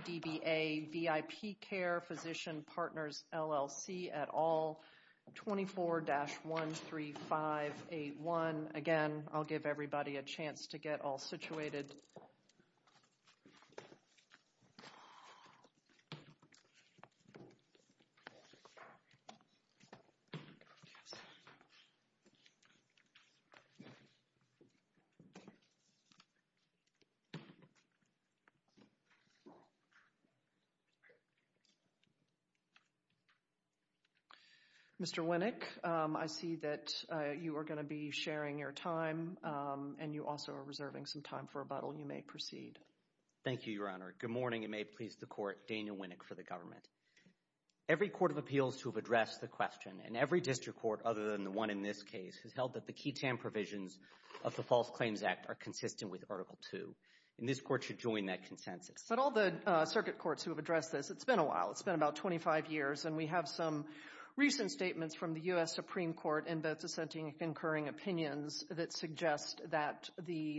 DBA, VIP Care, Physician Partners, LLC, et al, 24-13581. Again, I'll give everybody a chance to get all situated. Mr. Winnick, I see that you are going to be sharing your time, and you also are reserving some time for rebuttal. You may proceed. Thank you, Your Honor. Good morning, and may it please the Court, Daniel Winnick for the government. Every court of appeals to have addressed the question, and every district court other than the one in this case, has held that the QI-TAM provisions of the False Claims Act are consistent with Article II. And this Court should join that consensus. But all the circuit courts who have addressed this, it's been a while. It's been about 25 years, and we have some recent statements from the U.S. Supreme Court in both dissenting and concurring opinions that suggest that the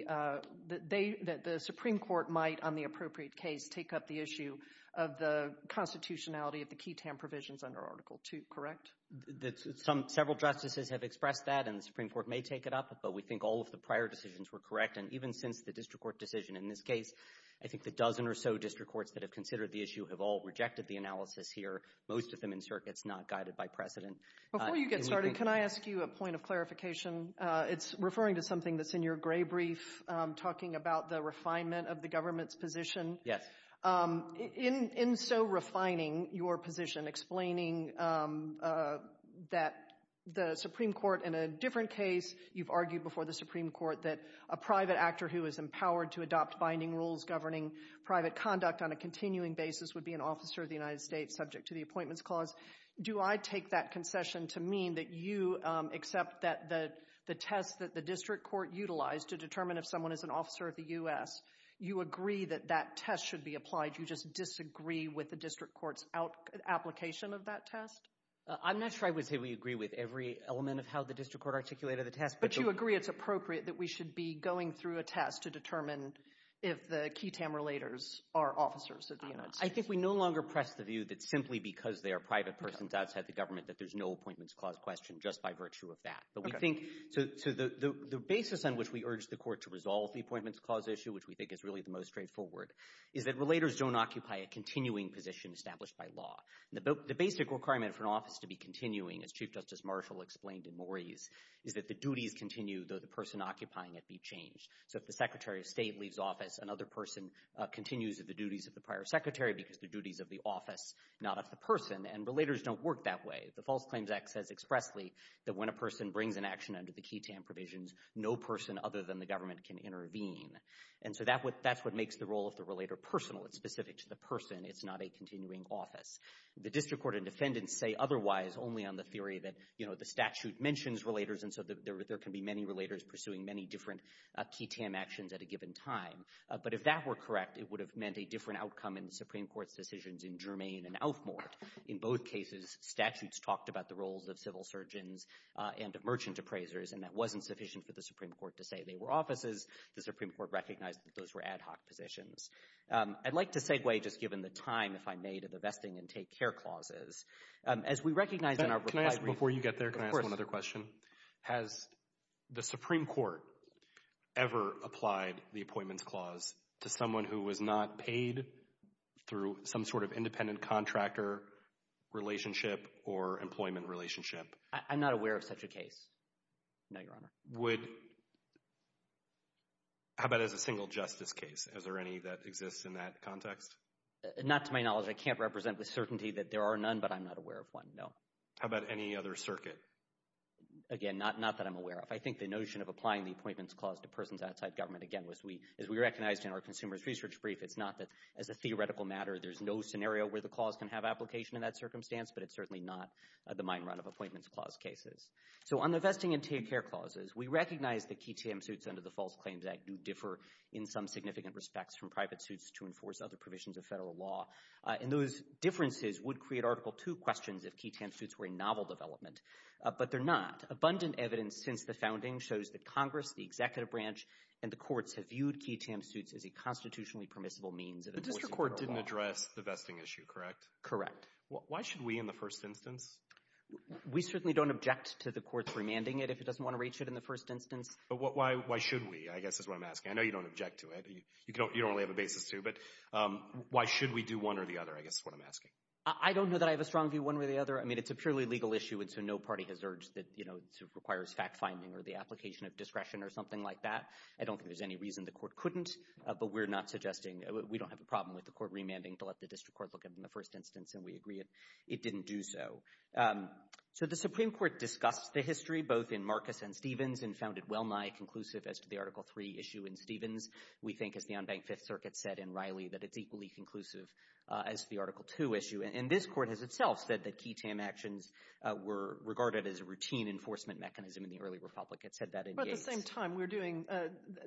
Supreme Court might, on the appropriate case, take up the issue of the constitutionality of the QI-TAM provisions under Article II, correct? Several justices have expressed that, and the Supreme Court may take it up, but we think all of the prior decisions were correct. And even since the district court decision in this case, I think the dozen or so district courts that have considered the issue have all rejected the analysis here, most of them in circuits not guided by precedent. Before you get started, can I ask you a point of clarification? It's referring to something that's in your gray brief, talking about the refinement of the government's position. Yes. In so refining your position, explaining that the Supreme Court in a different case, you've argued before the Supreme Court that a private actor who is empowered to adopt binding rules governing private conduct on a continuing basis would be an officer of the United States subject to the Appointments Clause. Do I take that concession to mean that you accept that the test that the district court utilized to determine if someone is an officer of the U.S., you agree that that test should be applied, you just disagree with the district court's application of that test? I'm not sure I would say we agree with every element of how the district court articulated the test. But you agree it's appropriate that we should be going through a test to determine if the QI-TAM relators are officers of the United States? I think we no longer press the view that simply because they are private persons outside the government that there's no Appointments Clause question, just by virtue of that. The basis on which we urge the court to resolve the Appointments Clause issue, which we think is really the most straightforward, is that relators don't occupy a continuing position established by law. The basic requirement for an office to be continuing, as Chief Justice Marshall explained in Morey's, is that the duties continue, though the person occupying it be changed. So if the Secretary of State leaves office, another person continues the duties of the prior secretary because the duties of the office, not of the person. And relators don't work that way. The False Claims Act says expressly that when a person brings an action under the QI-TAM provisions, no person other than the government can intervene. And so that's what makes the role of the relator personal. It's specific to the person. It's not a continuing office. The district court and defendants say otherwise only on the theory that the statute mentions relators, and so there can be many relators pursuing many different QI-TAM actions at a given time. But if that were correct, it would have meant a different outcome in the Supreme Court's decisions in Germain and Outhmore. In both cases, statutes talked about the roles of civil surgeons and of merchant appraisers, and that wasn't sufficient for the Supreme Court to say they were offices. The Supreme Court recognized that those were ad hoc positions. I'd like to segue, just given the time, if I may, to the Vesting Intake Care Clauses. As we recognize in our reply brief— Can I ask, before you get there, can I ask one other question? Has the Supreme Court ever applied the Appointments Clause to someone who was not paid through some sort of independent contractor relationship or employment relationship? I'm not aware of such a case, no, Your Honor. Would—how about as a single justice case? Is there any that exists in that context? Not to my knowledge. I can't represent with certainty that there are none, but I'm not aware of one, no. How about any other circuit? Again, not that I'm aware of. I think the notion of applying the Appointments Clause to persons outside government, again, as we recognized in our Consumers Research Brief, it's not that, as a theoretical matter, there's no scenario where the clause can have application in that circumstance, but it's certainly not the mine run of Appointments Clause cases. So on the Vesting Intake Care Clauses, we recognize that key TAM suits under the False Claims Act do differ in some significant respects from private suits to enforce other provisions of federal law, and those differences would create Article II questions if key TAM suits were a novel development, but they're not. Abundant evidence since the founding shows that Congress, the executive branch, and the courts have viewed key TAM suits as a constitutionally permissible means of enforcing federal law. The district court didn't address the vesting issue, correct? Correct. Why should we in the first instance? We certainly don't object to the courts remanding it if it doesn't want to reach it in the first instance. But why should we, I guess, is what I'm asking. I know you don't object to it. You don't really have a basis to, but why should we do one or the other, I guess, is what I'm asking. I don't know that I have a strong view one way or the other. I mean, it's a purely legal issue, and so no party has urged that, you know, it requires fact-finding or the application of discretion or something like that. I don't think there's any reason the court couldn't, but we're not suggesting, we don't have a problem with the court remanding to let the district court look at it in the first instance, and we agree it didn't do so. So the Supreme Court discussed the history both in Marcus and Stevens and found it well-nigh conclusive as to the Article III issue in Stevens. We think, as the unbanked Fifth Circuit said in Riley, that it's equally conclusive as the Article II issue. And this court has itself said that key TAM actions were regarded as a routine enforcement mechanism in the early republic. It said that in Gates. But at the same time, we're doing,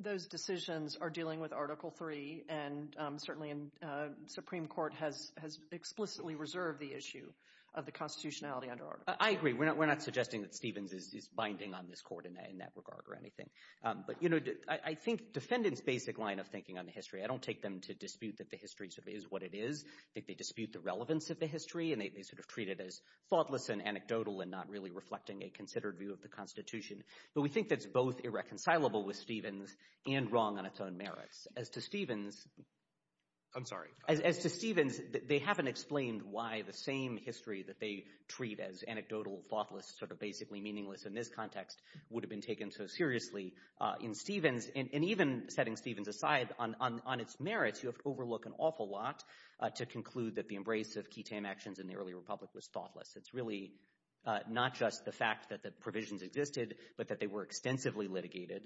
those decisions are dealing with Article III, and certainly the Supreme Court has explicitly reserved the issue of the constitutionality under Article III. I agree. We're not suggesting that Stevens is binding on this court in that regard or anything. But, you know, I think defendants' basic line of thinking on the history, I don't take them to dispute that the history sort of is what it is. I think they dispute the relevance of the history, and they sort of treat it as thoughtless and anecdotal and not really reflecting a considered view of the constitution. But we think that's both irreconcilable with Stevens and wrong on its own merits. As to Stevens, they haven't explained why the same history that they treat as anecdotal, thoughtless, sort of basically meaningless in this context would have been taken so seriously in Stevens. And even setting Stevens aside on its merits, you have to overlook an awful lot to conclude that the embrace of ketam actions in the early republic was thoughtless. It's really not just the fact that the provisions existed, but that they were extensively litigated,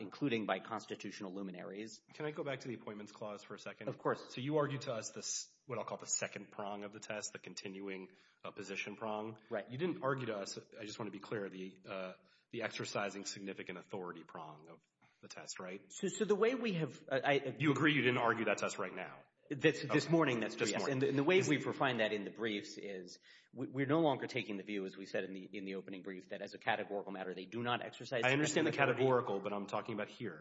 including by constitutional luminaries. Can I go back to the appointments clause for a second? Of course. So you argued to us what I'll call the second prong of the test, the continuing position prong. Right. You didn't argue to us, I just want to be clear, the exercising significant authority prong of the test, right? So the way we have— You agree you didn't argue that to us right now? This morning, that's what we asked. And the way we've refined that in the briefs is we're no longer taking the view, as we said in the opening brief, that as a categorical matter they do not exercise— I understand the categorical, but I'm talking about here.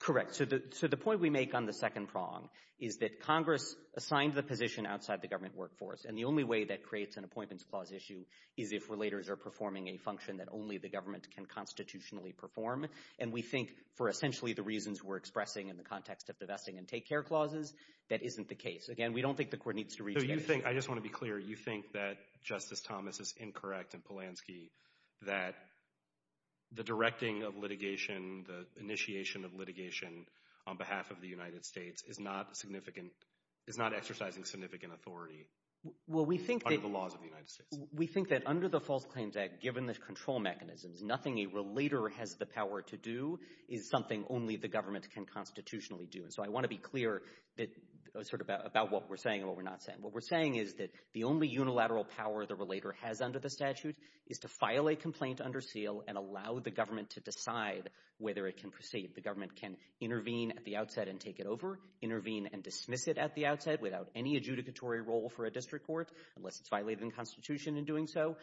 Correct. So the point we make on the second prong is that Congress assigned the position outside the government workforce, and the only way that creates an appointments clause issue is if relators are performing a function that only the government can constitutionally perform. And we think, for essentially the reasons we're expressing in the context of divesting and take-care clauses, that isn't the case. Again, we don't think the court needs to reject it. So you think—I just want to be clear—you think that Justice Thomas is incorrect in Polanski that the directing of litigation, the initiation of litigation on behalf of the United States is not exercising significant authority under the laws of the United States? We think that under the False Claims Act, given the control mechanisms, nothing a relator has the power to do is something only the government can constitutionally do. And so I want to be clear about what we're saying and what we're not saying. What we're saying is that the only unilateral power the relator has under the statute is to file a complaint under seal and allow the government to decide whether it can proceed. The government can intervene at the outset and take it over, intervene and dismiss it at the outset without any adjudicatory role for a district court, unless it's violated the Constitution in doing so,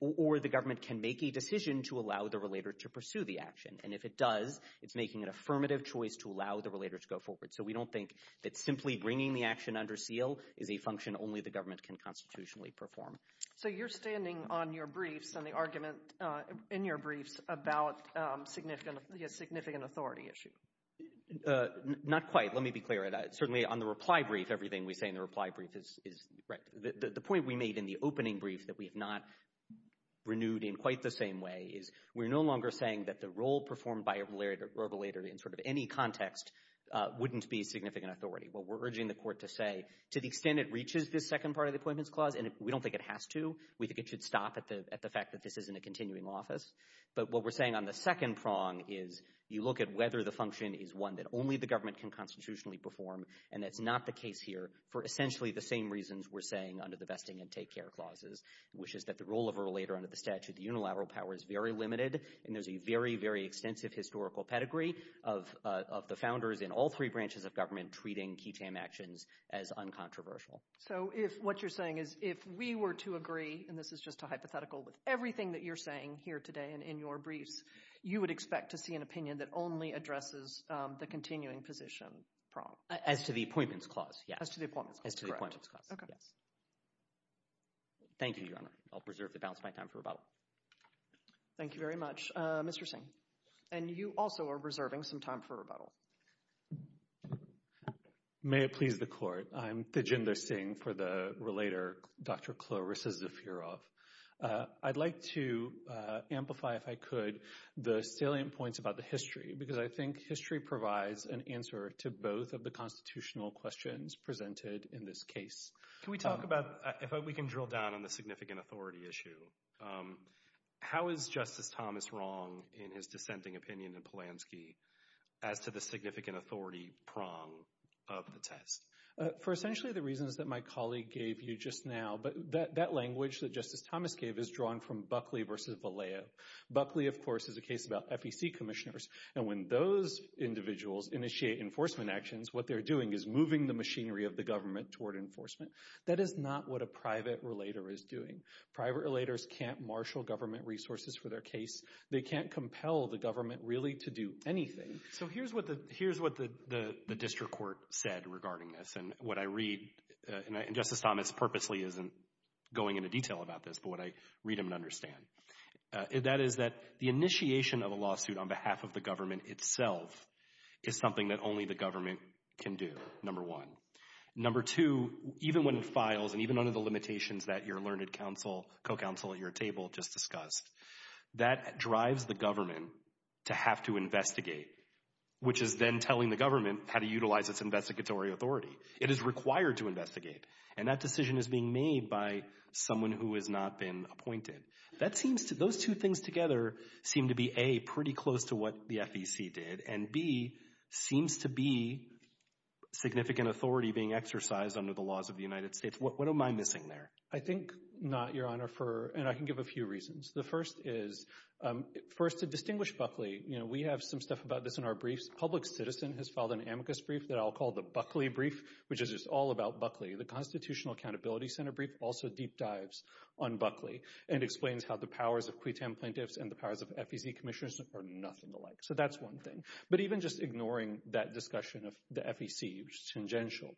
or the government can make a decision to allow the relator to pursue the action. And if it does, it's making an affirmative choice to allow the relator to go forward. So we don't think that simply bringing the action under seal is a function only the government can constitutionally perform. So you're standing on your briefs and the argument in your briefs about significant authority issue. Not quite. Let me be clear. Certainly on the reply brief, everything we say in the reply brief is right. The point we made in the opening brief that we have not renewed in quite the same way is we're no longer saying that the role performed by a relator in sort of any context wouldn't be significant authority. What we're urging the court to say, to the extent it reaches this second part of the Appointments Clause, and we don't think it has to. We think it should stop at the fact that this isn't a continuing office. But what we're saying on the second prong is you look at whether the function is one that only the government can constitutionally perform, and that's not the case here for essentially the same reasons we're saying under the Vesting and Take Care Clauses, which is that the role of a relator under the statute of unilateral power is very limited, and there's a very, very extensive historical pedigree of the founders in all three branches of government treating key TAM actions as uncontroversial. So what you're saying is if we were to agree, and this is just a hypothetical, with everything that you're saying here today and in your briefs, you would expect to see an opinion that only addresses the continuing position prong? As to the Appointments Clause, yes. As to the Appointments Clause, correct. As to the Appointments Clause, yes. Thank you, Your Honor. I'll preserve the balance of my time for rebuttal. Thank you very much. Mr. Singh, and you also are reserving some time for rebuttal. May it please the Court. I'm Thijinder Singh for the relator, Dr. Chloris Zafirov. I'd like to amplify, if I could, the salient points about the history, because I think history provides an answer to both of the constitutional questions presented in this case. Can we talk about, if we can drill down on the significant authority issue, how is Justice Thomas wrong in his dissenting opinion in Polanski as to the significant authority prong of the test? For essentially the reasons that my colleague gave you just now, that language that Justice Thomas gave is drawn from Buckley v. Vallejo. Buckley, of course, is a case about FEC commissioners, and when those individuals initiate enforcement actions, what they're doing is moving the machinery of the government toward enforcement. That is not what a private relator is doing. Private relators can't marshal government resources for their case. They can't compel the government really to do anything. So here's what the district court said regarding this, and what I read, and Justice Thomas purposely isn't going into detail about this, but what I read him and understand. That is that the initiation of a lawsuit on behalf of the government itself is something that only the government can do, number one. Number two, even when it files and even under the limitations that your learned counsel, your counsel at your table just discussed, that drives the government to have to investigate, which is then telling the government how to utilize its investigatory authority. It is required to investigate, and that decision is being made by someone who has not been appointed. Those two things together seem to be, A, pretty close to what the FEC did, and B, seems to be significant authority being exercised under the laws of the United States. What am I missing there? I think not, Your Honor, and I can give a few reasons. The first is, first to distinguish Buckley, we have some stuff about this in our briefs. Public Citizen has filed an amicus brief that I'll call the Buckley brief, which is just all about Buckley. The Constitutional Accountability Center brief also deep dives on Buckley and explains how the powers of QUTAM plaintiffs and the powers of FEC commissioners are nothing alike. So that's one thing. But even just ignoring that discussion of the FEC, which is tangential.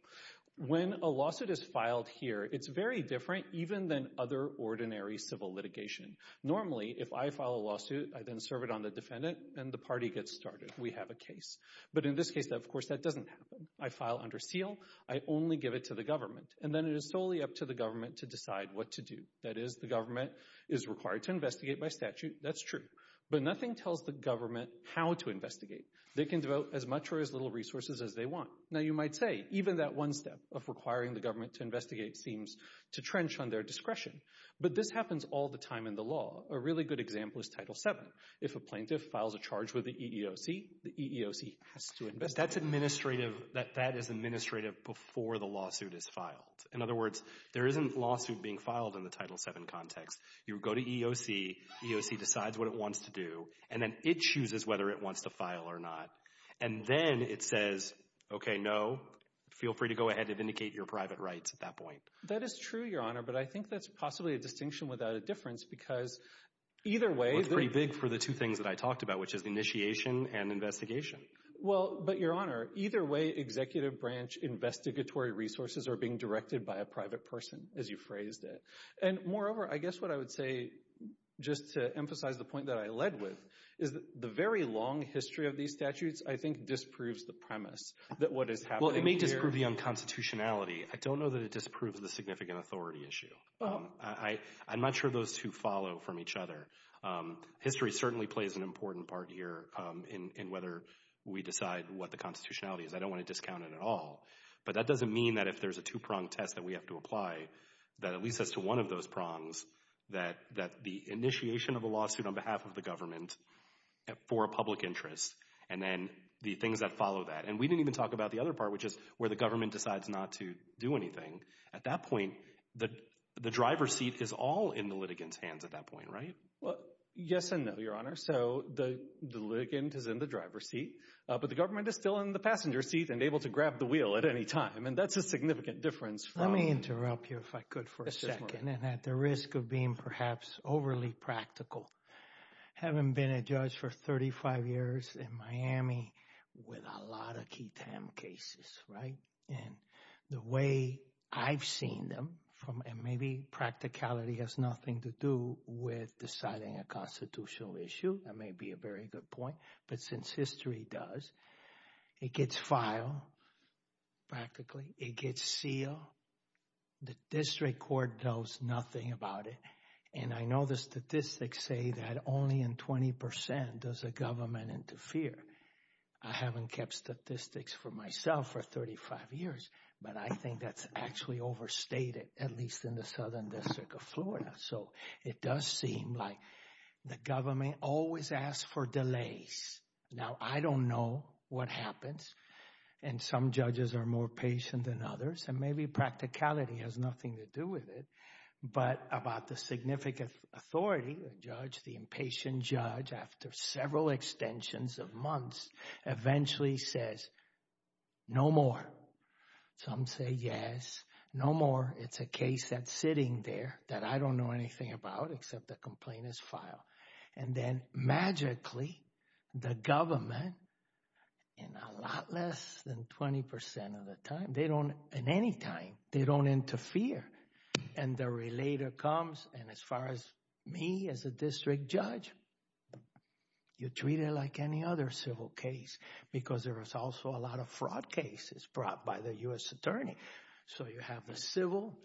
When a lawsuit is filed here, it's very different even than other ordinary civil litigation. Normally, if I file a lawsuit, I then serve it on the defendant, and the party gets started. We have a case. But in this case, of course, that doesn't happen. I file under seal. I only give it to the government. And then it is solely up to the government to decide what to do. That is, the government is required to investigate by statute. That's true. But nothing tells the government how to investigate. They can devote as much or as little resources as they want. Now, you might say, even that one step of requiring the government to investigate seems to trench on their discretion. But this happens all the time in the law. A really good example is Title VII. If a plaintiff files a charge with the EEOC, the EEOC has to investigate. That is administrative before the lawsuit is filed. In other words, there isn't a lawsuit being filed in the Title VII context. You go to EEOC, EEOC decides what it wants to do, and then it chooses whether it wants to file or not. And then it says, okay, no, feel free to go ahead and vindicate your private rights at that point. That is true, Your Honor, but I think that's possibly a distinction without a difference because either way— Well, it's pretty big for the two things that I talked about, which is initiation and investigation. Well, but, Your Honor, either way, executive branch investigatory resources are being directed by a private person, as you phrased it. And moreover, I guess what I would say, just to emphasize the point that I led with, is the very long history of these statutes, I think, disproves the premise that what is happening here— Well, it may disprove the unconstitutionality. I don't know that it disproves the significant authority issue. I'm not sure those two follow from each other. History certainly plays an important part here in whether we decide what the constitutionality is. I don't want to discount it at all. But that doesn't mean that if there's a two-prong test that we have to apply, that at least as to one of those prongs, that the initiation of a lawsuit on behalf of the government for a public interest and then the things that follow that— And we didn't even talk about the other part, which is where the government decides not to do anything. At that point, the driver's seat is all in the litigant's hands at that point, right? Well, yes and no, Your Honor. So the litigant is in the driver's seat, but the government is still in the passenger's seat and able to grab the wheel at any time. And that's a significant difference from— Let me interrupt you if I could for a second. And at the risk of being perhaps overly practical, I haven't been a judge for 35 years in Miami with a lot of key time cases, right? And the way I've seen them from— and maybe practicality has nothing to do with deciding a constitutional issue. That may be a very good point. But since history does, it gets filed practically. It gets sealed. The district court knows nothing about it. And I know the statistics say that only in 20 percent does a government interfere. I haven't kept statistics for myself for 35 years, but I think that's actually overstated, at least in the Southern District of Florida. So it does seem like the government always asks for delays. Now, I don't know what happens. And some judges are more patient than others. And maybe practicality has nothing to do with it. But about the significant authority, the judge, the impatient judge, after several extensions of months, eventually says, no more. Some say, yes, no more. It's a case that's sitting there that I don't know anything about except the complaint is filed. And then magically, the government, in a lot less than 20 percent of the time, they don't—in any time, they don't interfere. And the relator comes, and as far as me as a district judge, you treat it like any other civil case because there is also a lot of fraud cases brought by the U.S. attorney. So you have the civil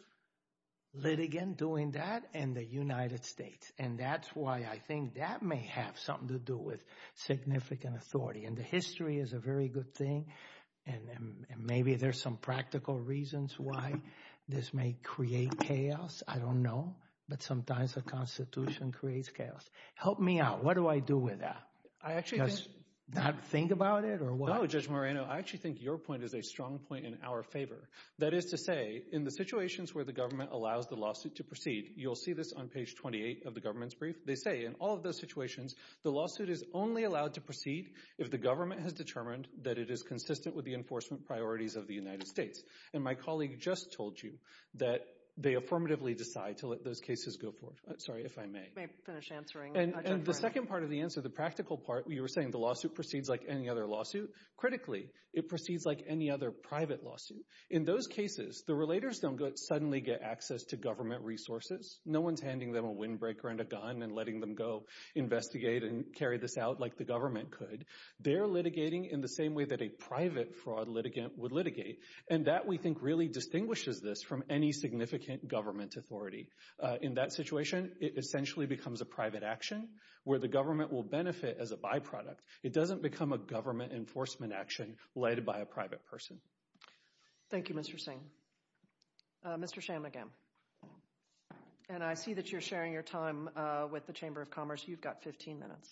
litigant doing that and the United States. And that's why I think that may have something to do with significant authority. And the history is a very good thing. And maybe there's some practical reasons why this may create chaos. I don't know. But sometimes the Constitution creates chaos. Help me out. What do I do with that? Just not think about it or what? No, Judge Moreno, I actually think your point is a strong point in our favor. That is to say, in the situations where the government allows the lawsuit to proceed, you'll see this on page 28 of the government's brief. They say in all of those situations, the lawsuit is only allowed to proceed if the government has determined that it is consistent with the enforcement priorities of the United States. And my colleague just told you that they affirmatively decide to let those cases go forward. Sorry, if I may. You may finish answering, Judge Moreno. And the second part of the answer, the practical part, you were saying the lawsuit proceeds like any other lawsuit. Critically, it proceeds like any other private lawsuit. In those cases, the relators don't suddenly get access to government resources. No one's handing them a windbreaker and a gun and letting them go investigate and carry this out like the government could. They're litigating in the same way that a private fraud litigant would litigate. And that, we think, really distinguishes this from any significant government authority. In that situation, it essentially becomes a private action where the government will benefit as a byproduct. It doesn't become a government enforcement action led by a private person. Thank you, Mr. Singh. Mr. Shanmugam. And I see that you're sharing your time with the Chamber of Commerce. You've got 15 minutes.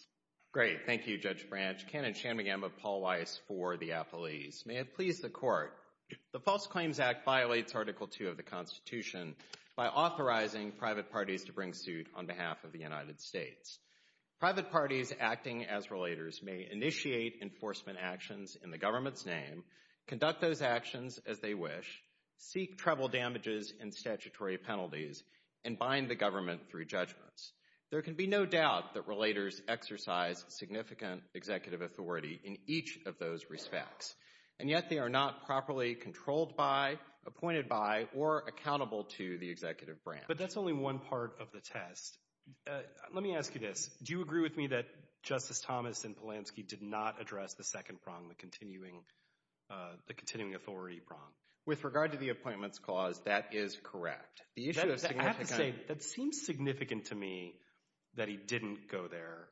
Great. Thank you, Judge Branch. Kenneth Shanmugam of Paul Weiss for the Apple East. May it please the Court. The False Claims Act violates Article 2 of the Constitution by authorizing private parties to bring suit on behalf of the United States. Private parties acting as relators may initiate enforcement actions in the government's name, conduct those actions as they wish, seek treble damages and statutory penalties, and bind the government through judgments. There can be no doubt that relators exercise significant executive authority in each of those respects, and yet they are not properly controlled by, appointed by, or accountable to the executive branch. But that's only one part of the test. Let me ask you this. Do you agree with me that Justice Thomas and Polanski did not address the second prong, the continuing authority prong? With regard to the appointments clause, that is correct. I have to say, that seems significant to me that he didn't go there.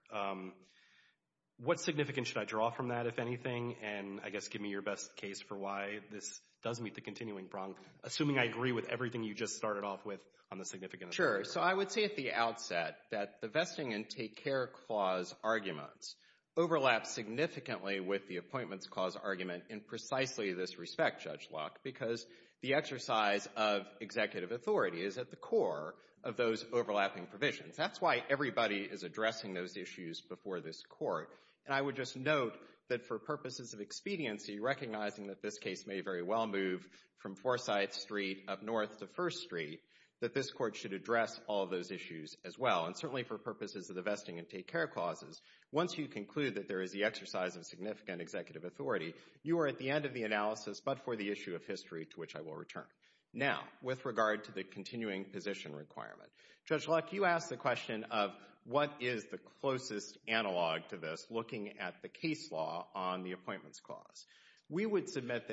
What significance should I draw from that, if anything? And I guess give me your best case for why this does meet the continuing prong, assuming I agree with everything you just started off with on the significance. Sure. So I would say at the outset that the vesting intake care clause arguments overlap significantly with the appointments clause argument in precisely this respect, Judge Locke, because the exercise of executive authority is at the core of those overlapping provisions. That's why everybody is addressing those issues before this Court. And I would just note that for purposes of expediency, recognizing that this case may very well move from Forsyth Street up north to First Street, that this Court should address all those issues as well. And certainly for purposes of the vesting intake care clauses, once you conclude that there is the exercise of significant executive authority, you are at the end of the analysis but for the issue of history, to which I will return. Now, with regard to the continuing position requirement, Judge Locke, you asked the question of what is the closest analog to this looking at the case law on the appointments clause.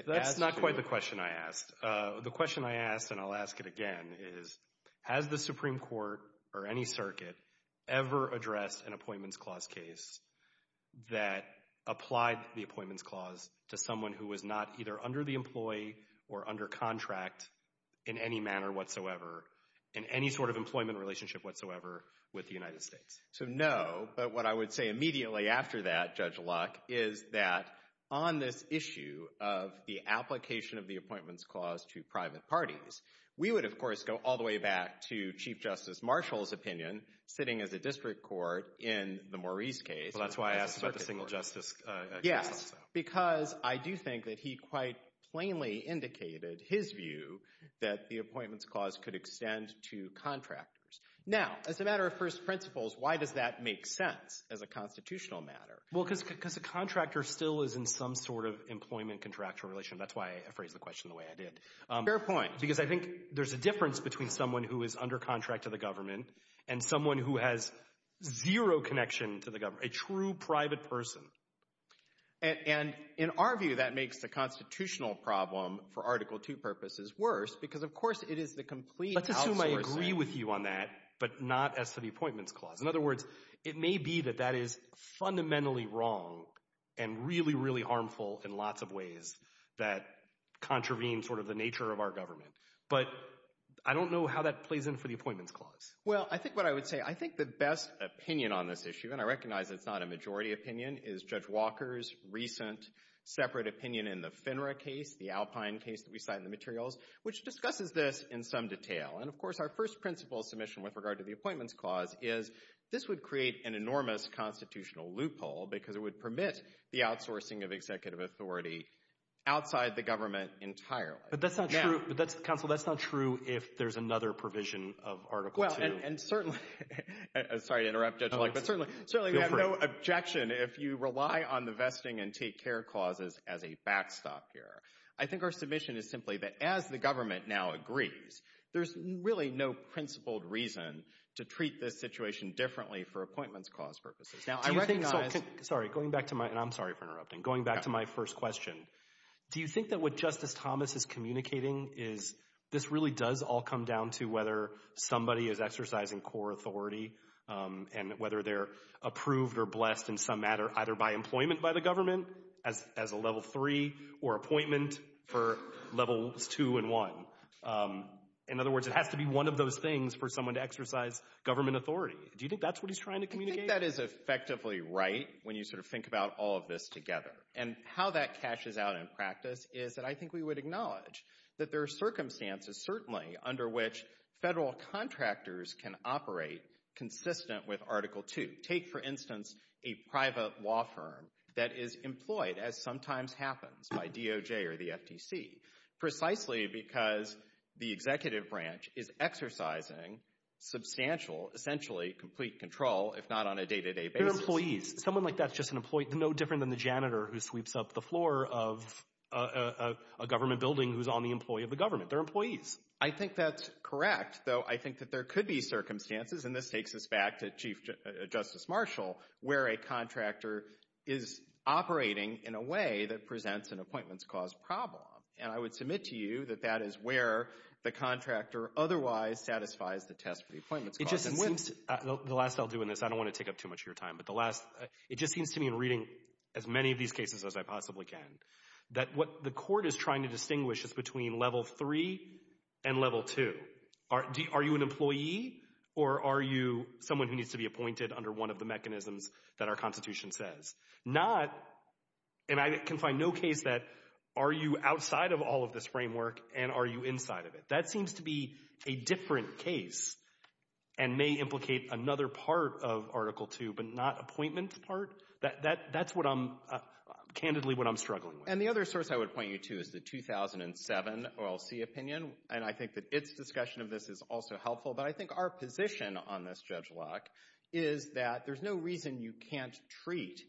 That's not quite the question I asked. The question I asked, and I'll ask it again, is has the Supreme Court or any circuit ever addressed an appointments clause case that applied the appointments clause to someone who was not either under the employee or under contract in any manner whatsoever in any sort of employment relationship whatsoever with the United States? So, no. But what I would say immediately after that, Judge Locke, is that on this issue of the application of the appointments clause to private parties, we would, of course, go all the way back to Chief Justice Marshall's opinion, sitting as a district court in the Maurice case. That's why I asked about the single justice case also. Yes, because I do think that he quite plainly indicated his view that the appointments clause could extend to contractors. Now, as a matter of first principles, why does that make sense as a constitutional matter? Well, because a contractor still is in some sort of employment contractual relation. That's why I phrased the question the way I did. Fair point. Because I think there's a difference between someone who is under contract to the government and someone who has zero connection to the government, a true private person. And in our view, that makes the constitutional problem for Article II purposes worse because, of course, it is the complete outsourcing. Let's assume I agree with you on that, but not as to the appointments clause. In other words, it may be that that is fundamentally wrong and really, really harmful in lots of ways that contravene sort of the nature of our government. But I don't know how that plays in for the appointments clause. Well, I think what I would say, I think the best opinion on this issue, given I recognize it's not a majority opinion, is Judge Walker's recent separate opinion in the FINRA case, the Alpine case that we cite in the materials, which discusses this in some detail. And, of course, our first principles submission with regard to the appointments clause is this would create an enormous constitutional loophole because it would permit the outsourcing of executive authority outside the government entirely. But that's not true. Counsel, that's not true if there's another provision of Article II. Well, and certainly—sorry to interrupt, Judge Walker, but certainly we have no objection if you rely on the vesting and take care clauses as a backstop here. I think our submission is simply that as the government now agrees, there's really no principled reason to treat this situation differently for appointments clause purposes. Now, I recognize— Sorry, going back to my—and I'm sorry for interrupting. Going back to my first question, do you think that what Justice Thomas is communicating is this really does all come down to whether somebody is exercising core authority and whether they're approved or blessed in some matter either by employment by the government as a level three or appointment for levels two and one? In other words, it has to be one of those things for someone to exercise government authority. Do you think that's what he's trying to communicate? I think that is effectively right when you sort of think about all of this together. And how that cashes out in practice is that I think we would acknowledge that there are circumstances, certainly, under which federal contractors can operate consistent with Article II. Take, for instance, a private law firm that is employed, as sometimes happens by DOJ or the FTC, precisely because the executive branch is exercising substantial, essentially complete control, if not on a day-to-day basis. They're employees. Someone like that's just an employee. No different than the janitor who sweeps up the floor of a government building who's on the employee of the government. They're employees. I think that's correct, though I think that there could be circumstances, and this takes us back to Chief Justice Marshall, where a contractor is operating in a way that presents an appointments cause problem. And I would submit to you that that is where the contractor otherwise satisfies the test for the appointments cause. The last I'll do in this, I don't want to take up too much of your time, but it just seems to me in reading as many of these cases as I possibly can that what the court is trying to distinguish is between level three and level two. Are you an employee or are you someone who needs to be appointed under one of the mechanisms that our Constitution says? Not, and I can find no case that are you outside of all of this framework and are you inside of it. That seems to be a different case and may implicate another part of Article II but not appointment part. That's what I'm, candidly, what I'm struggling with. And the other source I would point you to is the 2007 OLC opinion, and I think that its discussion of this is also helpful, but I think our position on this, Judge Locke, is that there's no reason you can't treat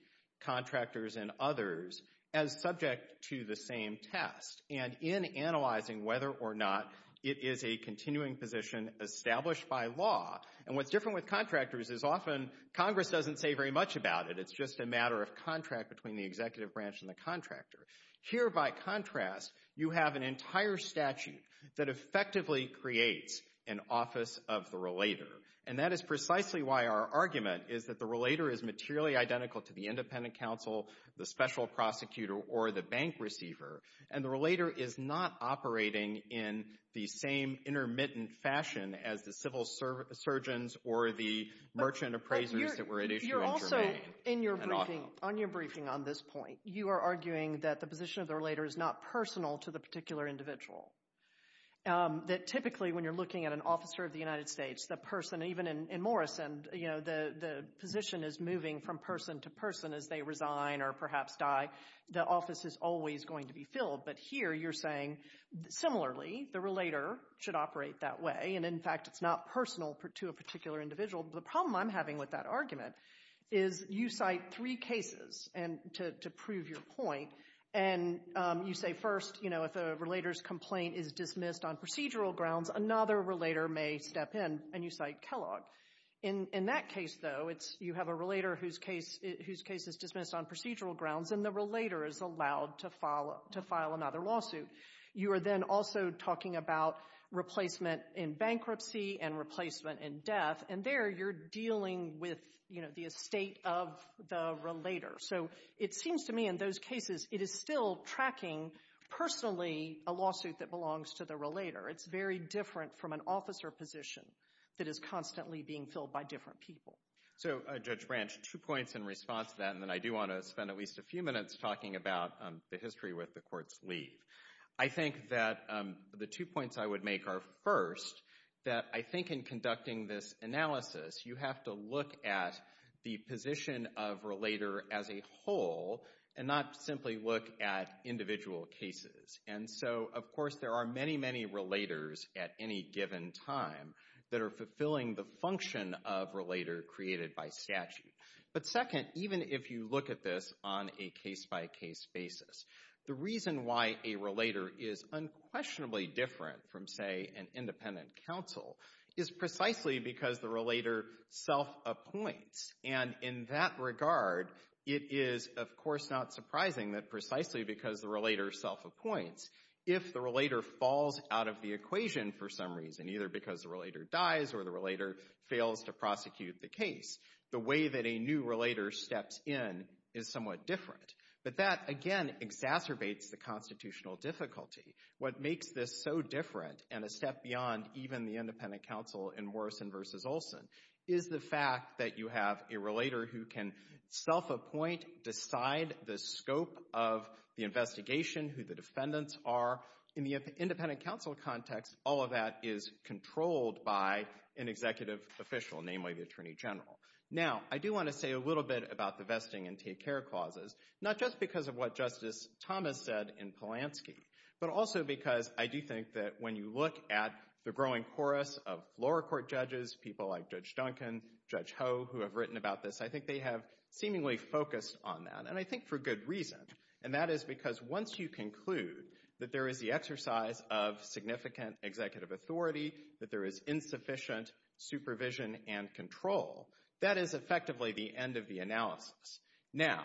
contractors and others as subject to the same test. And in analyzing whether or not it is a continuing position established by law, and what's different with contractors is often Congress doesn't say very much about it. It's just a matter of contract between the executive branch and the contractor. Here, by contrast, you have an entire statute that effectively creates an office of the relator, and that is precisely why our argument is that the relator is materially identical to the independent counsel, the special prosecutor, or the bank receiver, and the relator is not operating in the same intermittent fashion as the civil surgeons or the merchant appraisers that were at issue in Germany. You're also, in your briefing, on your briefing on this point, you are arguing that the position of the relator is not personal to the particular individual, that typically when you're looking at an officer of the United States, the person, even in Morrison, you know, the position is moving from person to person as they resign or perhaps die, the office is always going to be filled. But here you're saying, similarly, the relator should operate that way, and in fact it's not personal to a particular individual. The problem I'm having with that argument is you cite three cases to prove your point, and you say first, you know, if a relator's complaint is dismissed on procedural grounds, another relator may step in, and you cite Kellogg. In that case, though, you have a relator whose case is dismissed on procedural grounds, and the relator is allowed to file another lawsuit. You are then also talking about replacement in bankruptcy and replacement in death, and there you're dealing with, you know, the estate of the relator. So it seems to me in those cases it is still tracking personally a lawsuit that belongs to the relator. It's very different from an officer position that is constantly being filled by different people. So, Judge Branch, two points in response to that, and then I do want to spend at least a few minutes talking about the history with the court's leave. I think that the two points I would make are, first, that I think in conducting this analysis you have to look at the position of relator as a whole and not simply look at individual cases. And so, of course, there are many, many relators at any given time that are fulfilling the function of relator created by statute. But, second, even if you look at this on a case-by-case basis, the reason why a relator is unquestionably different from, say, an independent counsel is precisely because the relator self-appoints. And in that regard, it is, of course, not surprising that precisely because the relator self-appoints, if the relator falls out of the equation for some reason, either because the relator dies or the relator fails to prosecute the case, the way that a new relator steps in is somewhat different. But that, again, exacerbates the constitutional difficulty. What makes this so different and a step beyond even the independent counsel in Morrison v. Olson is the fact that you have a relator who can self-appoint, decide the scope of the investigation, who the defendants are. In the independent counsel context, all of that is controlled by an executive official, namely the Attorney General. Now, I do want to say a little bit about the vesting and take-care clauses, not just because of what Justice Thomas said in Polanski, but also because I do think that when you look at the growing chorus of lower court judges, people like Judge Duncan, Judge Ho, who have written about this, I think they have seemingly focused on that, and I think for good reason. And that is because once you conclude that there is the exercise of significant executive authority, that there is insufficient supervision and control, that is effectively the end of the analysis. Now,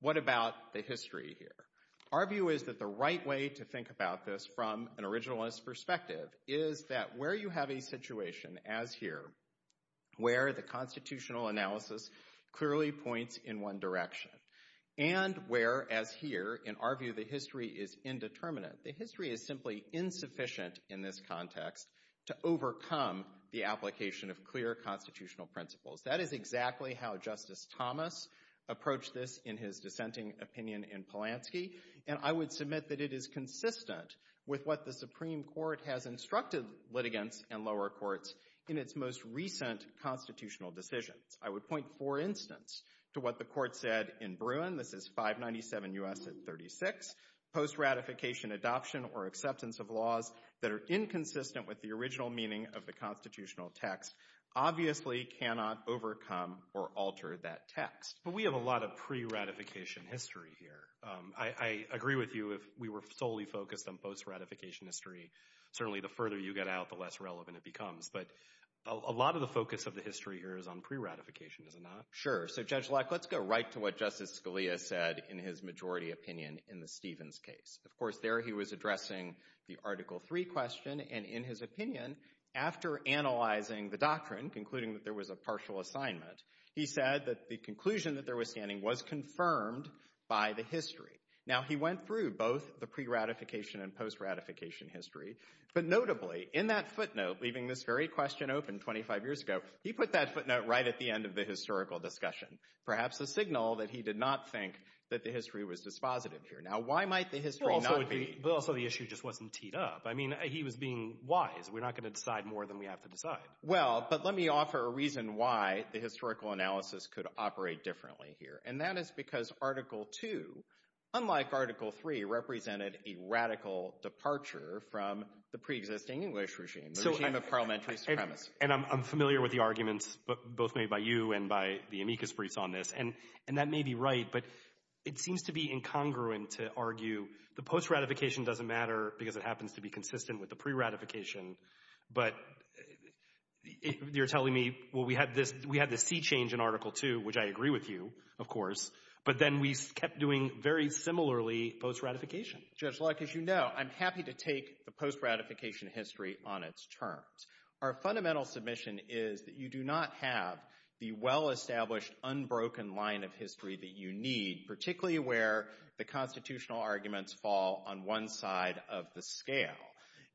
what about the history here? Our view is that the right way to think about this from an originalist perspective is that where you have a situation as here, where the constitutional analysis clearly points in one direction, and where as here, in our view, the history is indeterminate. The history is simply insufficient in this context to overcome the application of clear constitutional principles. That is exactly how Justice Thomas approached this in his dissenting opinion in Polanski, and I would submit that it is consistent with what the Supreme Court has instructed litigants and lower courts in its most recent constitutional decisions. I would point, for instance, to what the court said in Bruin. This is 597 U.S. at 36. Post-ratification adoption or acceptance of laws that are inconsistent with the original meaning of the constitutional text obviously cannot overcome or alter that text. But we have a lot of pre-ratification history here. I agree with you if we were solely focused on post-ratification history. Certainly, the further you get out, the less relevant it becomes. But a lot of the focus of the history here is on pre-ratification, is it not? Sure. So, Judge Leck, let's go right to what Justice Scalia said in his majority opinion in the Stevens case. Of course, there he was addressing the Article III question, and in his opinion, after analyzing the doctrine, concluding that there was a partial assignment, he said that the conclusion that there was standing was confirmed by the history. Now, he went through both the pre-ratification and post-ratification history. But notably, in that footnote, leaving this very question open 25 years ago, he put that footnote right at the end of the historical discussion, perhaps a signal that he did not think that the history was dispositive here. Now, why might the history not be? But also the issue just wasn't teed up. I mean, he was being wise. We're not going to decide more than we have to decide. Well, but let me offer a reason why the historical analysis could operate differently here, and that is because Article II, unlike Article III, represented a radical departure from the pre-existing English regime, the regime of parliamentary supremacy. And I'm familiar with the arguments both made by you and by the amicus briefs on this, and that may be right, but it seems to be incongruent to argue the post-ratification doesn't matter because it happens to be consistent with the pre-ratification. But you're telling me, well, we had this sea change in Article II, which I agree with you, of course, but then we kept doing very similarly post-ratification. Judge Locke, as you know, I'm happy to take the post-ratification history on its terms. Our fundamental submission is that you do not have the well-established, unbroken line of history that you need, particularly where the constitutional arguments fall on one side of the scale.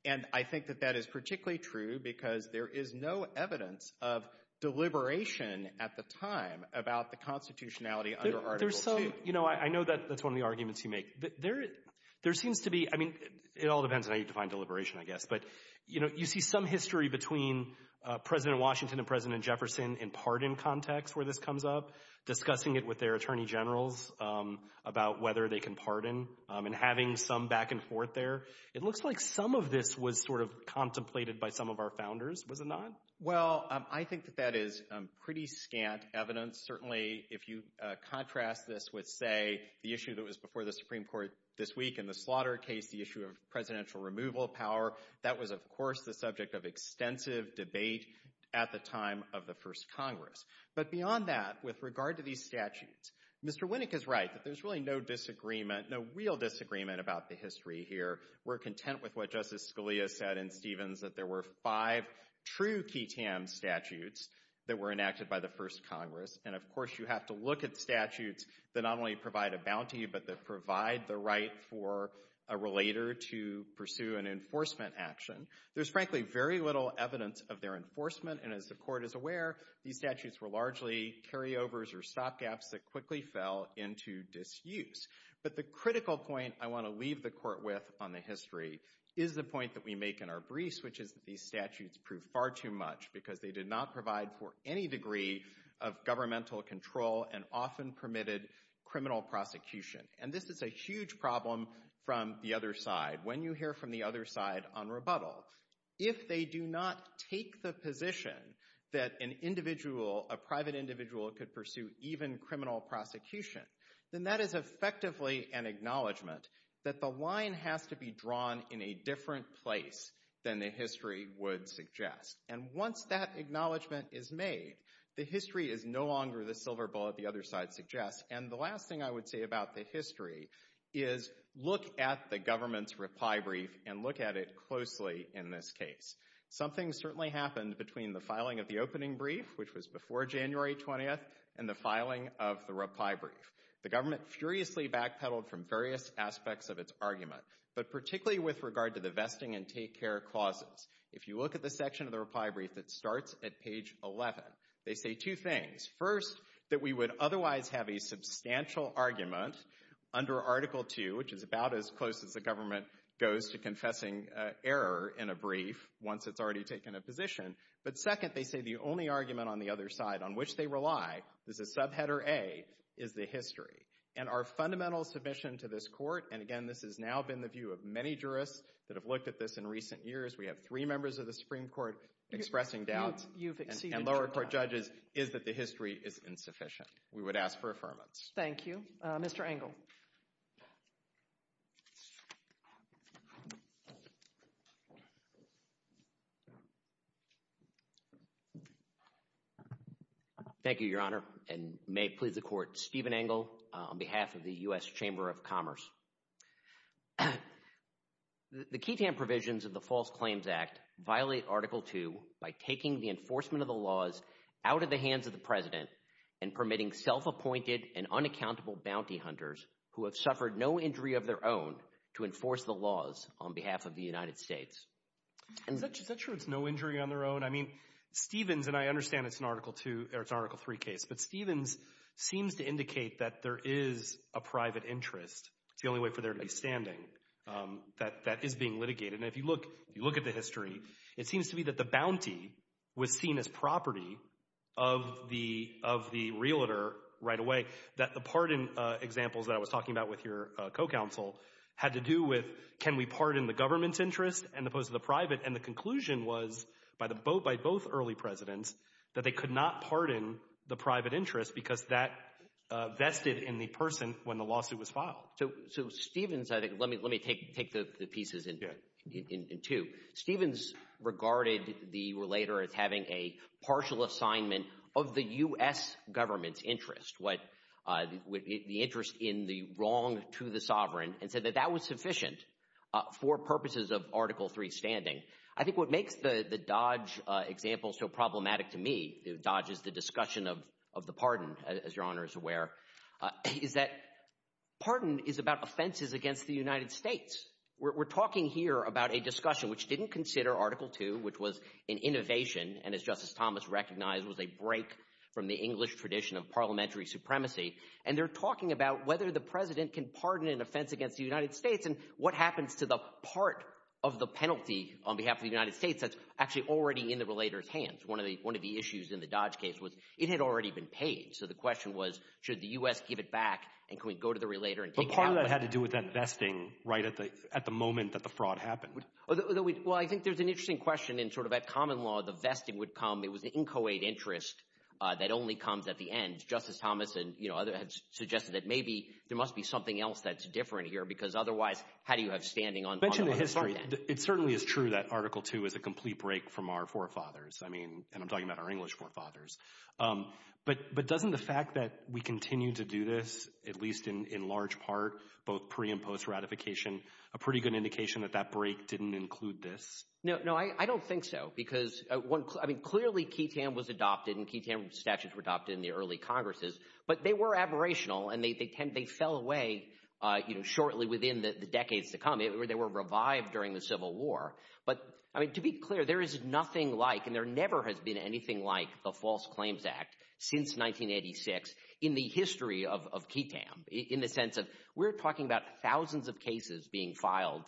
And I think that that is particularly true because there is no evidence of deliberation at the time about the constitutionality under Article II. There's some—you know, I know that's one of the arguments you make. There seems to be—I mean, it all depends on how you define deliberation, I guess. But, you know, you see some history between President Washington and President Jefferson in part in context where this comes up, discussing it with their attorney generals about whether they can pardon and having some back and forth there. It looks like some of this was sort of contemplated by some of our founders, was it not? Well, I think that that is pretty scant evidence. Certainly, if you contrast this with, say, the issue that was before the Supreme Court this week in the slaughter case, the issue of presidential removal of power, that was, of course, the subject of extensive debate at the time of the first Congress. But beyond that, with regard to these statutes, Mr. Winnick is right that there's really no disagreement, no real disagreement about the history here. We're content with what Justice Scalia said in Stevens, that there were five true qui tam statutes that were enacted by the first Congress. And, of course, you have to look at statutes that not only provide a bounty but that provide the right for a relator to pursue an enforcement action. There's, frankly, very little evidence of their enforcement. And as the Court is aware, these statutes were largely carryovers or stopgaps that quickly fell into disuse. But the critical point I want to leave the Court with on the history is the point that we make in our briefs, which is that these statutes prove far too much because they did not provide for any degree of governmental control and often permitted criminal prosecution. And this is a huge problem from the other side. When you hear from the other side on rebuttal, if they do not take the position that an individual, a private individual could pursue even criminal prosecution, then that is effectively an acknowledgement that the line has to be drawn in a different place than the history would suggest. And once that acknowledgement is made, the history is no longer the silver bullet the other side suggests. And the last thing I would say about the history is look at the government's reply brief and look at it closely in this case. Something certainly happened between the filing of the opening brief, which was before January 20th, and the filing of the reply brief. The government furiously backpedaled from various aspects of its argument, but particularly with regard to the vesting and take-care clauses. If you look at the section of the reply brief that starts at page 11, they say two things. First, that we would otherwise have a substantial argument under Article II, which is about as close as the government goes to confessing error in a brief once it's already taken a position. But second, they say the only argument on the other side on which they rely, this is subheader A, is the history. And our fundamental submission to this court, and again this has now been the view of many jurists that have looked at this in recent years, we have three members of the Supreme Court expressing doubts, and lower court judges, is that the history is insufficient. We would ask for affirmance. Thank you. Mr. Engel. Thank you, Your Honor, and may it please the Court, Stephen Engel on behalf of the U.S. Chamber of Commerce. The QUTAM provisions of the False Claims Act violate Article II by taking the enforcement of the laws out of the hands of the President and permitting self-appointed and unaccountable bounty hunters who have suffered no injury of their own to enforce the laws on behalf of the United States. Is that true it's no injury on their own? I mean, Stevens, and I understand it's an Article II, or it's an Article III case, but Stevens seems to indicate that there is a private interest. It's the only way for there to be standing that is being litigated. And if you look at the history, it seems to be that the bounty was seen as property of the realtor right away. The pardon examples that I was talking about with your co-counsel had to do with, can we pardon the government's interest as opposed to the private? And the conclusion was by both early presidents that they could not pardon the private interest because that vested in the person when the lawsuit was filed. So Stevens, let me take the pieces in two. Stevens regarded the realtor as having a partial assignment of the U.S. government's interest, the interest in the wrong to the sovereign, and said that that was sufficient for purposes of Article III standing. I think what makes the Dodge example so problematic to me, Dodge is the discussion of the pardon, as your Honor is aware, is that pardon is about offenses against the United States. We're talking here about a discussion which didn't consider Article II, which was an innovation and, as Justice Thomas recognized, was a break from the English tradition of parliamentary supremacy. And they're talking about whether the president can pardon an offense against the United States and what happens to the part of the penalty on behalf of the United States that's actually already in the relator's hands. One of the issues in the Dodge case was it had already been paid. So the question was should the U.S. give it back and can we go to the relator and take it out? But part of that had to do with that vesting right at the moment that the fraud happened. Well, I think there's an interesting question in sort of that common law, the vesting would come, it was an inchoate interest that only comes at the end. And Justice Thomas and others suggested that maybe there must be something else that's different here because otherwise how do you have standing on the other side then? You mentioned the history. It certainly is true that Article II is a complete break from our forefathers, and I'm talking about our English forefathers. But doesn't the fact that we continue to do this, at least in large part, both pre- and post-ratification, a pretty good indication that that break didn't include this? No, I don't think so. Because clearly QITAM was adopted and QITAM statutes were adopted in the early Congresses, but they were aberrational and they fell away shortly within the decades to come. They were revived during the Civil War. But to be clear, there is nothing like and there never has been anything like the False Claims Act since 1986 in the history of QITAM in the sense of we're talking about thousands of cases being filed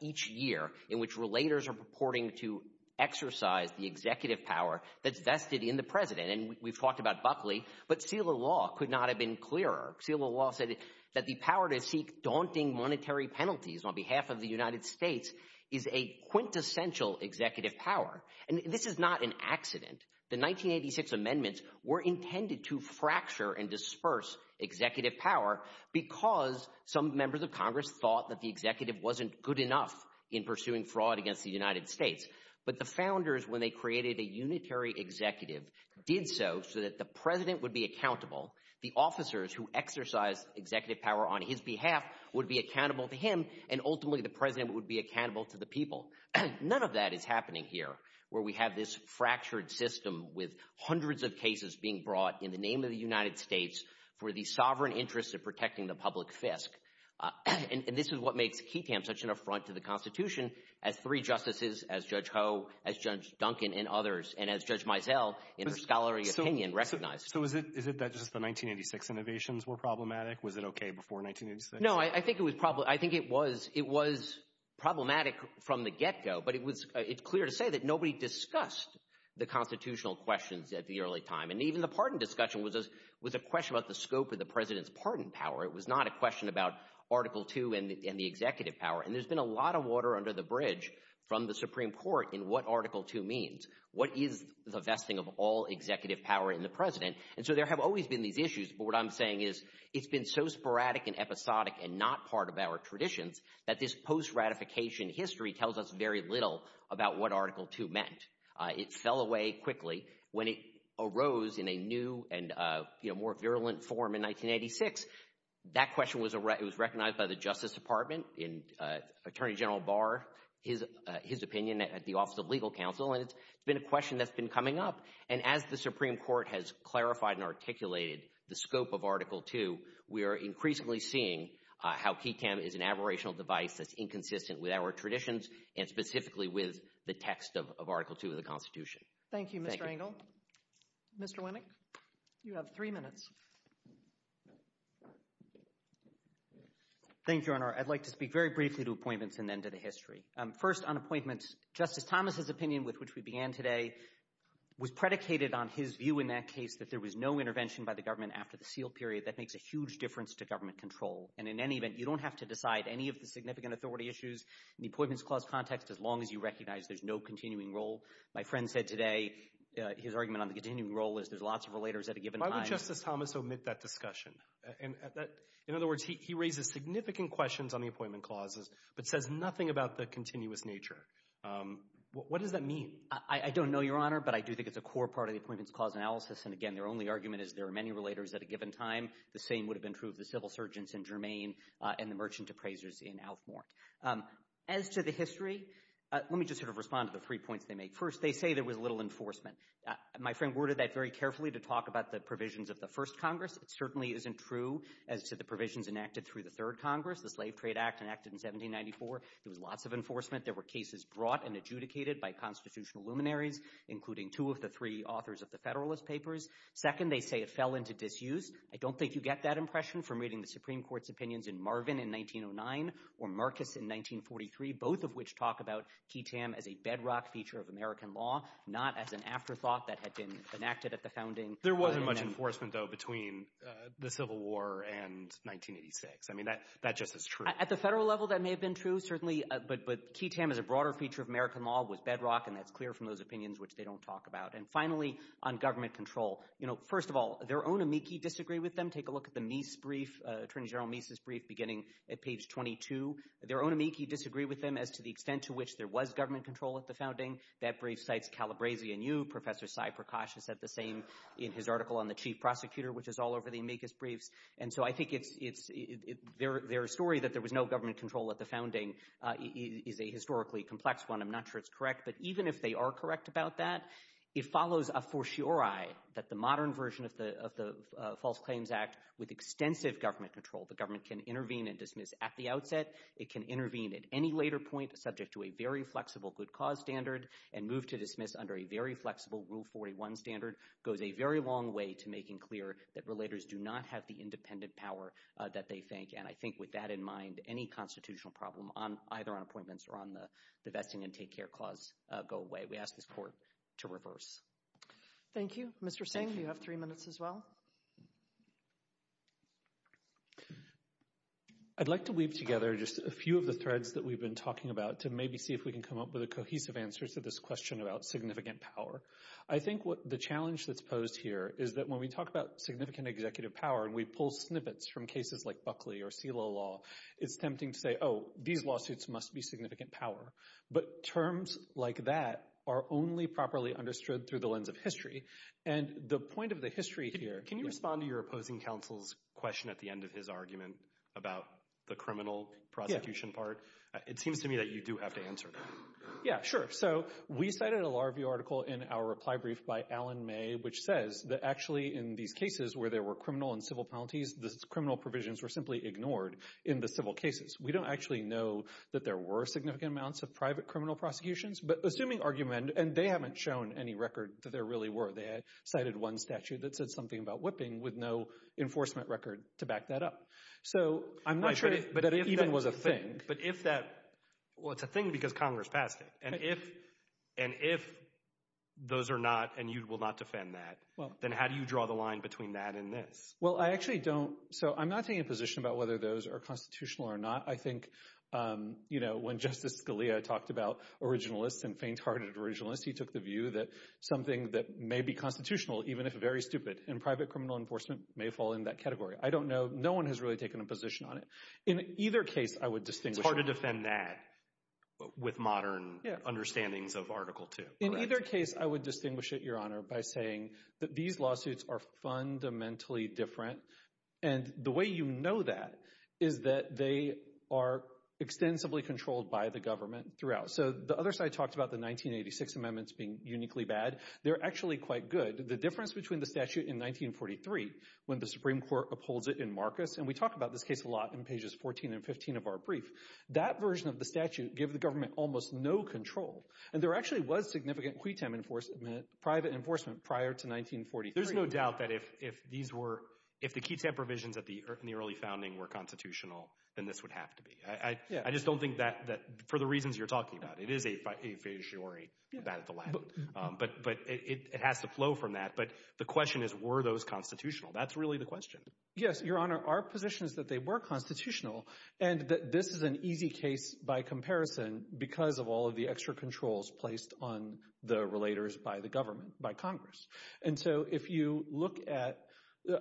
each year in which relators are purporting to exercise the executive power that's vested in the president. And we've talked about Buckley, but Selah Law could not have been clearer. Selah Law said that the power to seek daunting monetary penalties on behalf of the United States is a quintessential executive power. And this is not an accident. The 1986 amendments were intended to fracture and disperse executive power because some members of Congress thought that the executive wasn't good enough in pursuing fraud against the United States. But the founders, when they created a unitary executive, did so so that the president would be accountable, the officers who exercised executive power on his behalf would be accountable to him, and ultimately the president would be accountable to the people. None of that is happening here where we have this fractured system with hundreds of cases being brought in the name of the United States for the sovereign interest of protecting the public fisc. And this is what makes Keaton such an affront to the Constitution as three justices, as Judge Ho, as Judge Duncan, and others, and as Judge Mizell, in her scholarly opinion, recognized. So is it that just the 1986 innovations were problematic? Was it okay before 1986? No, I think it was problematic from the get-go, but it's clear to say that nobody discussed the constitutional questions at the early time. And even the pardon discussion was a question about the scope of the president's pardon power. It was not a question about Article II and the executive power. And there's been a lot of water under the bridge from the Supreme Court in what Article II means. What is the vesting of all executive power in the president? And so there have always been these issues, but what I'm saying is it's been so sporadic and episodic and not part of our traditions that this post-ratification history tells us very little about what Article II meant. It fell away quickly when it arose in a new and more virulent form in 1986. That question was recognized by the Justice Department, and Attorney General Barr, his opinion at the Office of Legal Counsel, and it's been a question that's been coming up. And as the Supreme Court has clarified and articulated the scope of Article II, we are increasingly seeing how Keaton is an aberrational device that's inconsistent with our traditions and specifically with the text of Article II of the Constitution. Thank you, Mr. Engel. Mr. Winnick, you have three minutes. Thank you, Your Honor. I'd like to speak very briefly to appointments and then to the history. First, on appointments, Justice Thomas's opinion, with which we began today, was predicated on his view in that case that there was no intervention by the government after the seal period. That makes a huge difference to government control. And in any event, you don't have to decide any of the significant authority issues. In the appointments clause context, as long as you recognize there's no continuing role. My friend said today his argument on the continuing role is there's lots of relators at a given time. Why would Justice Thomas omit that discussion? In other words, he raises significant questions on the appointment clauses but says nothing about the continuous nature. What does that mean? I don't know, Your Honor, but I do think it's a core part of the appointments clause analysis. And, again, their only argument is there are many relators at a given time. The same would have been true of the civil surgeons in Germain and the merchant appraisers in Alfmort. As to the history, let me just sort of respond to the three points they make. First, they say there was little enforcement. My friend worded that very carefully to talk about the provisions of the first Congress. It certainly isn't true as to the provisions enacted through the third Congress, the Slave Trade Act enacted in 1794. There was lots of enforcement. There were cases brought and adjudicated by constitutional luminaries, including two of the three authors of the Federalist Papers. Second, they say it fell into disuse. I don't think you get that impression from reading the Supreme Court's opinions in Marvin in 1909 or Marcus in 1943, both of which talk about key tam as a bedrock feature of American law, not as an afterthought that had been enacted at the founding. There wasn't much enforcement, though, between the Civil War and 1986. I mean, that just is true. At the federal level, that may have been true, certainly, but key tam as a broader feature of American law was bedrock, and that's clear from those opinions which they don't talk about. And, finally, on government control. First of all, their own amici disagree with them. Take a look at the Meese brief, Attorney General Meese's brief, beginning at page 22. Their own amici disagree with them as to the extent to which there was government control at the founding. That brief cites Calabresi anew. Professor Cy Prakash has said the same in his article on the chief prosecutor, which is all over the amicus briefs. And so I think their story that there was no government control at the founding is a historically complex one. I'm not sure it's correct, but even if they are correct about that, it follows a fortiori that the modern version of the False Claims Act, with extensive government control, the government can intervene and dismiss at the outset. It can intervene at any later point, subject to a very flexible good cause standard, and move to dismiss under a very flexible Rule 41 standard, goes a very long way to making clear that relators do not have the independent power that they think. And I think with that in mind, any constitutional problem, either on appointments or on the vesting and take care clause, go away. We ask this court to reverse. Thank you. Mr. Singh, you have three minutes as well. I'd like to weave together just a few of the threads that we've been talking about to maybe see if we can come up with a cohesive answer to this question about significant power. I think the challenge that's posed here is that when we talk about significant executive power and we pull snippets from cases like Buckley or CELA law, it's tempting to say, oh, these lawsuits must be significant power. But terms like that are only properly understood through the lens of history. And the point of the history here— Can you respond to your opposing counsel's question at the end of his argument about the criminal prosecution part? It seems to me that you do have to answer that. Yeah, sure. So we cited a Larview article in our reply brief by Alan May, which says that actually in these cases where there were criminal and civil penalties, the criminal provisions were simply ignored in the civil cases. We don't actually know that there were significant amounts of private criminal prosecutions. But assuming argument—and they haven't shown any record that there really were. They cited one statute that said something about whipping with no enforcement record to back that up. So I'm not sure that it even was a thing. But if that—well, it's a thing because Congress passed it. And if those are not and you will not defend that, then how do you draw the line between that and this? Well, I actually don't—so I'm not taking a position about whether those are constitutional or not. I think, you know, when Justice Scalia talked about originalists and faint-hearted originalists, he took the view that something that may be constitutional, even if very stupid, in private criminal enforcement may fall in that category. I don't know—no one has really taken a position on it. In either case, I would distinguish— It's hard to defend that with modern understandings of Article II. In either case, I would distinguish it, Your Honor, by saying that these lawsuits are fundamentally different. And the way you know that is that they are extensively controlled by the government throughout. So the other side talked about the 1986 amendments being uniquely bad. They're actually quite good. The difference between the statute in 1943, when the Supreme Court upholds it in Marcus— and we talk about this case a lot in pages 14 and 15 of our brief— that version of the statute gave the government almost no control. And there actually was significant quitem enforcement, private enforcement, prior to 1943. There's no doubt that if these were— if the quitem provisions in the early founding were constitutional, then this would have to be. I just don't think that—for the reasons you're talking about. It is a fiduciary. But it has to flow from that. But the question is, were those constitutional? That's really the question. Yes, Your Honor. Our position is that they were constitutional, and that this is an easy case by comparison because of all of the extra controls placed on the relators by the government, by Congress. And so if you look at—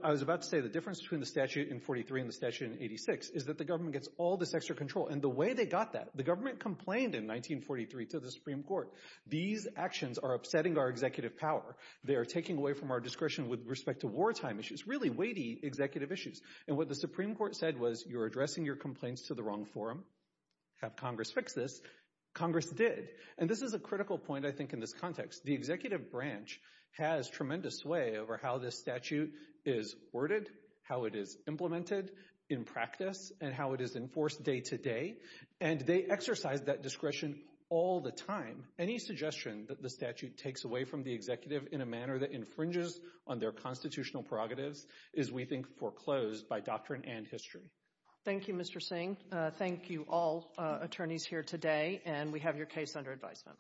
I was about to say the difference between the statute in 1943 and the statute in 1986 is that the government gets all this extra control. And the way they got that—the government complained in 1943 to the Supreme Court. These actions are upsetting our executive power. They are taking away from our discretion with respect to wartime issues, really weighty executive issues. And what the Supreme Court said was, you're addressing your complaints to the wrong forum. Have Congress fix this. Congress did. And this is a critical point, I think, in this context. The executive branch has tremendous sway over how this statute is worded, how it is implemented in practice, and how it is enforced day to day. And they exercise that discretion all the time. Any suggestion that the statute takes away from the executive in a manner that infringes on their constitutional prerogatives is, we think, foreclosed by doctrine and history. Thank you, Mr. Singh. Thank you, all attorneys here today. And we have your case under advisement.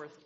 Thank you.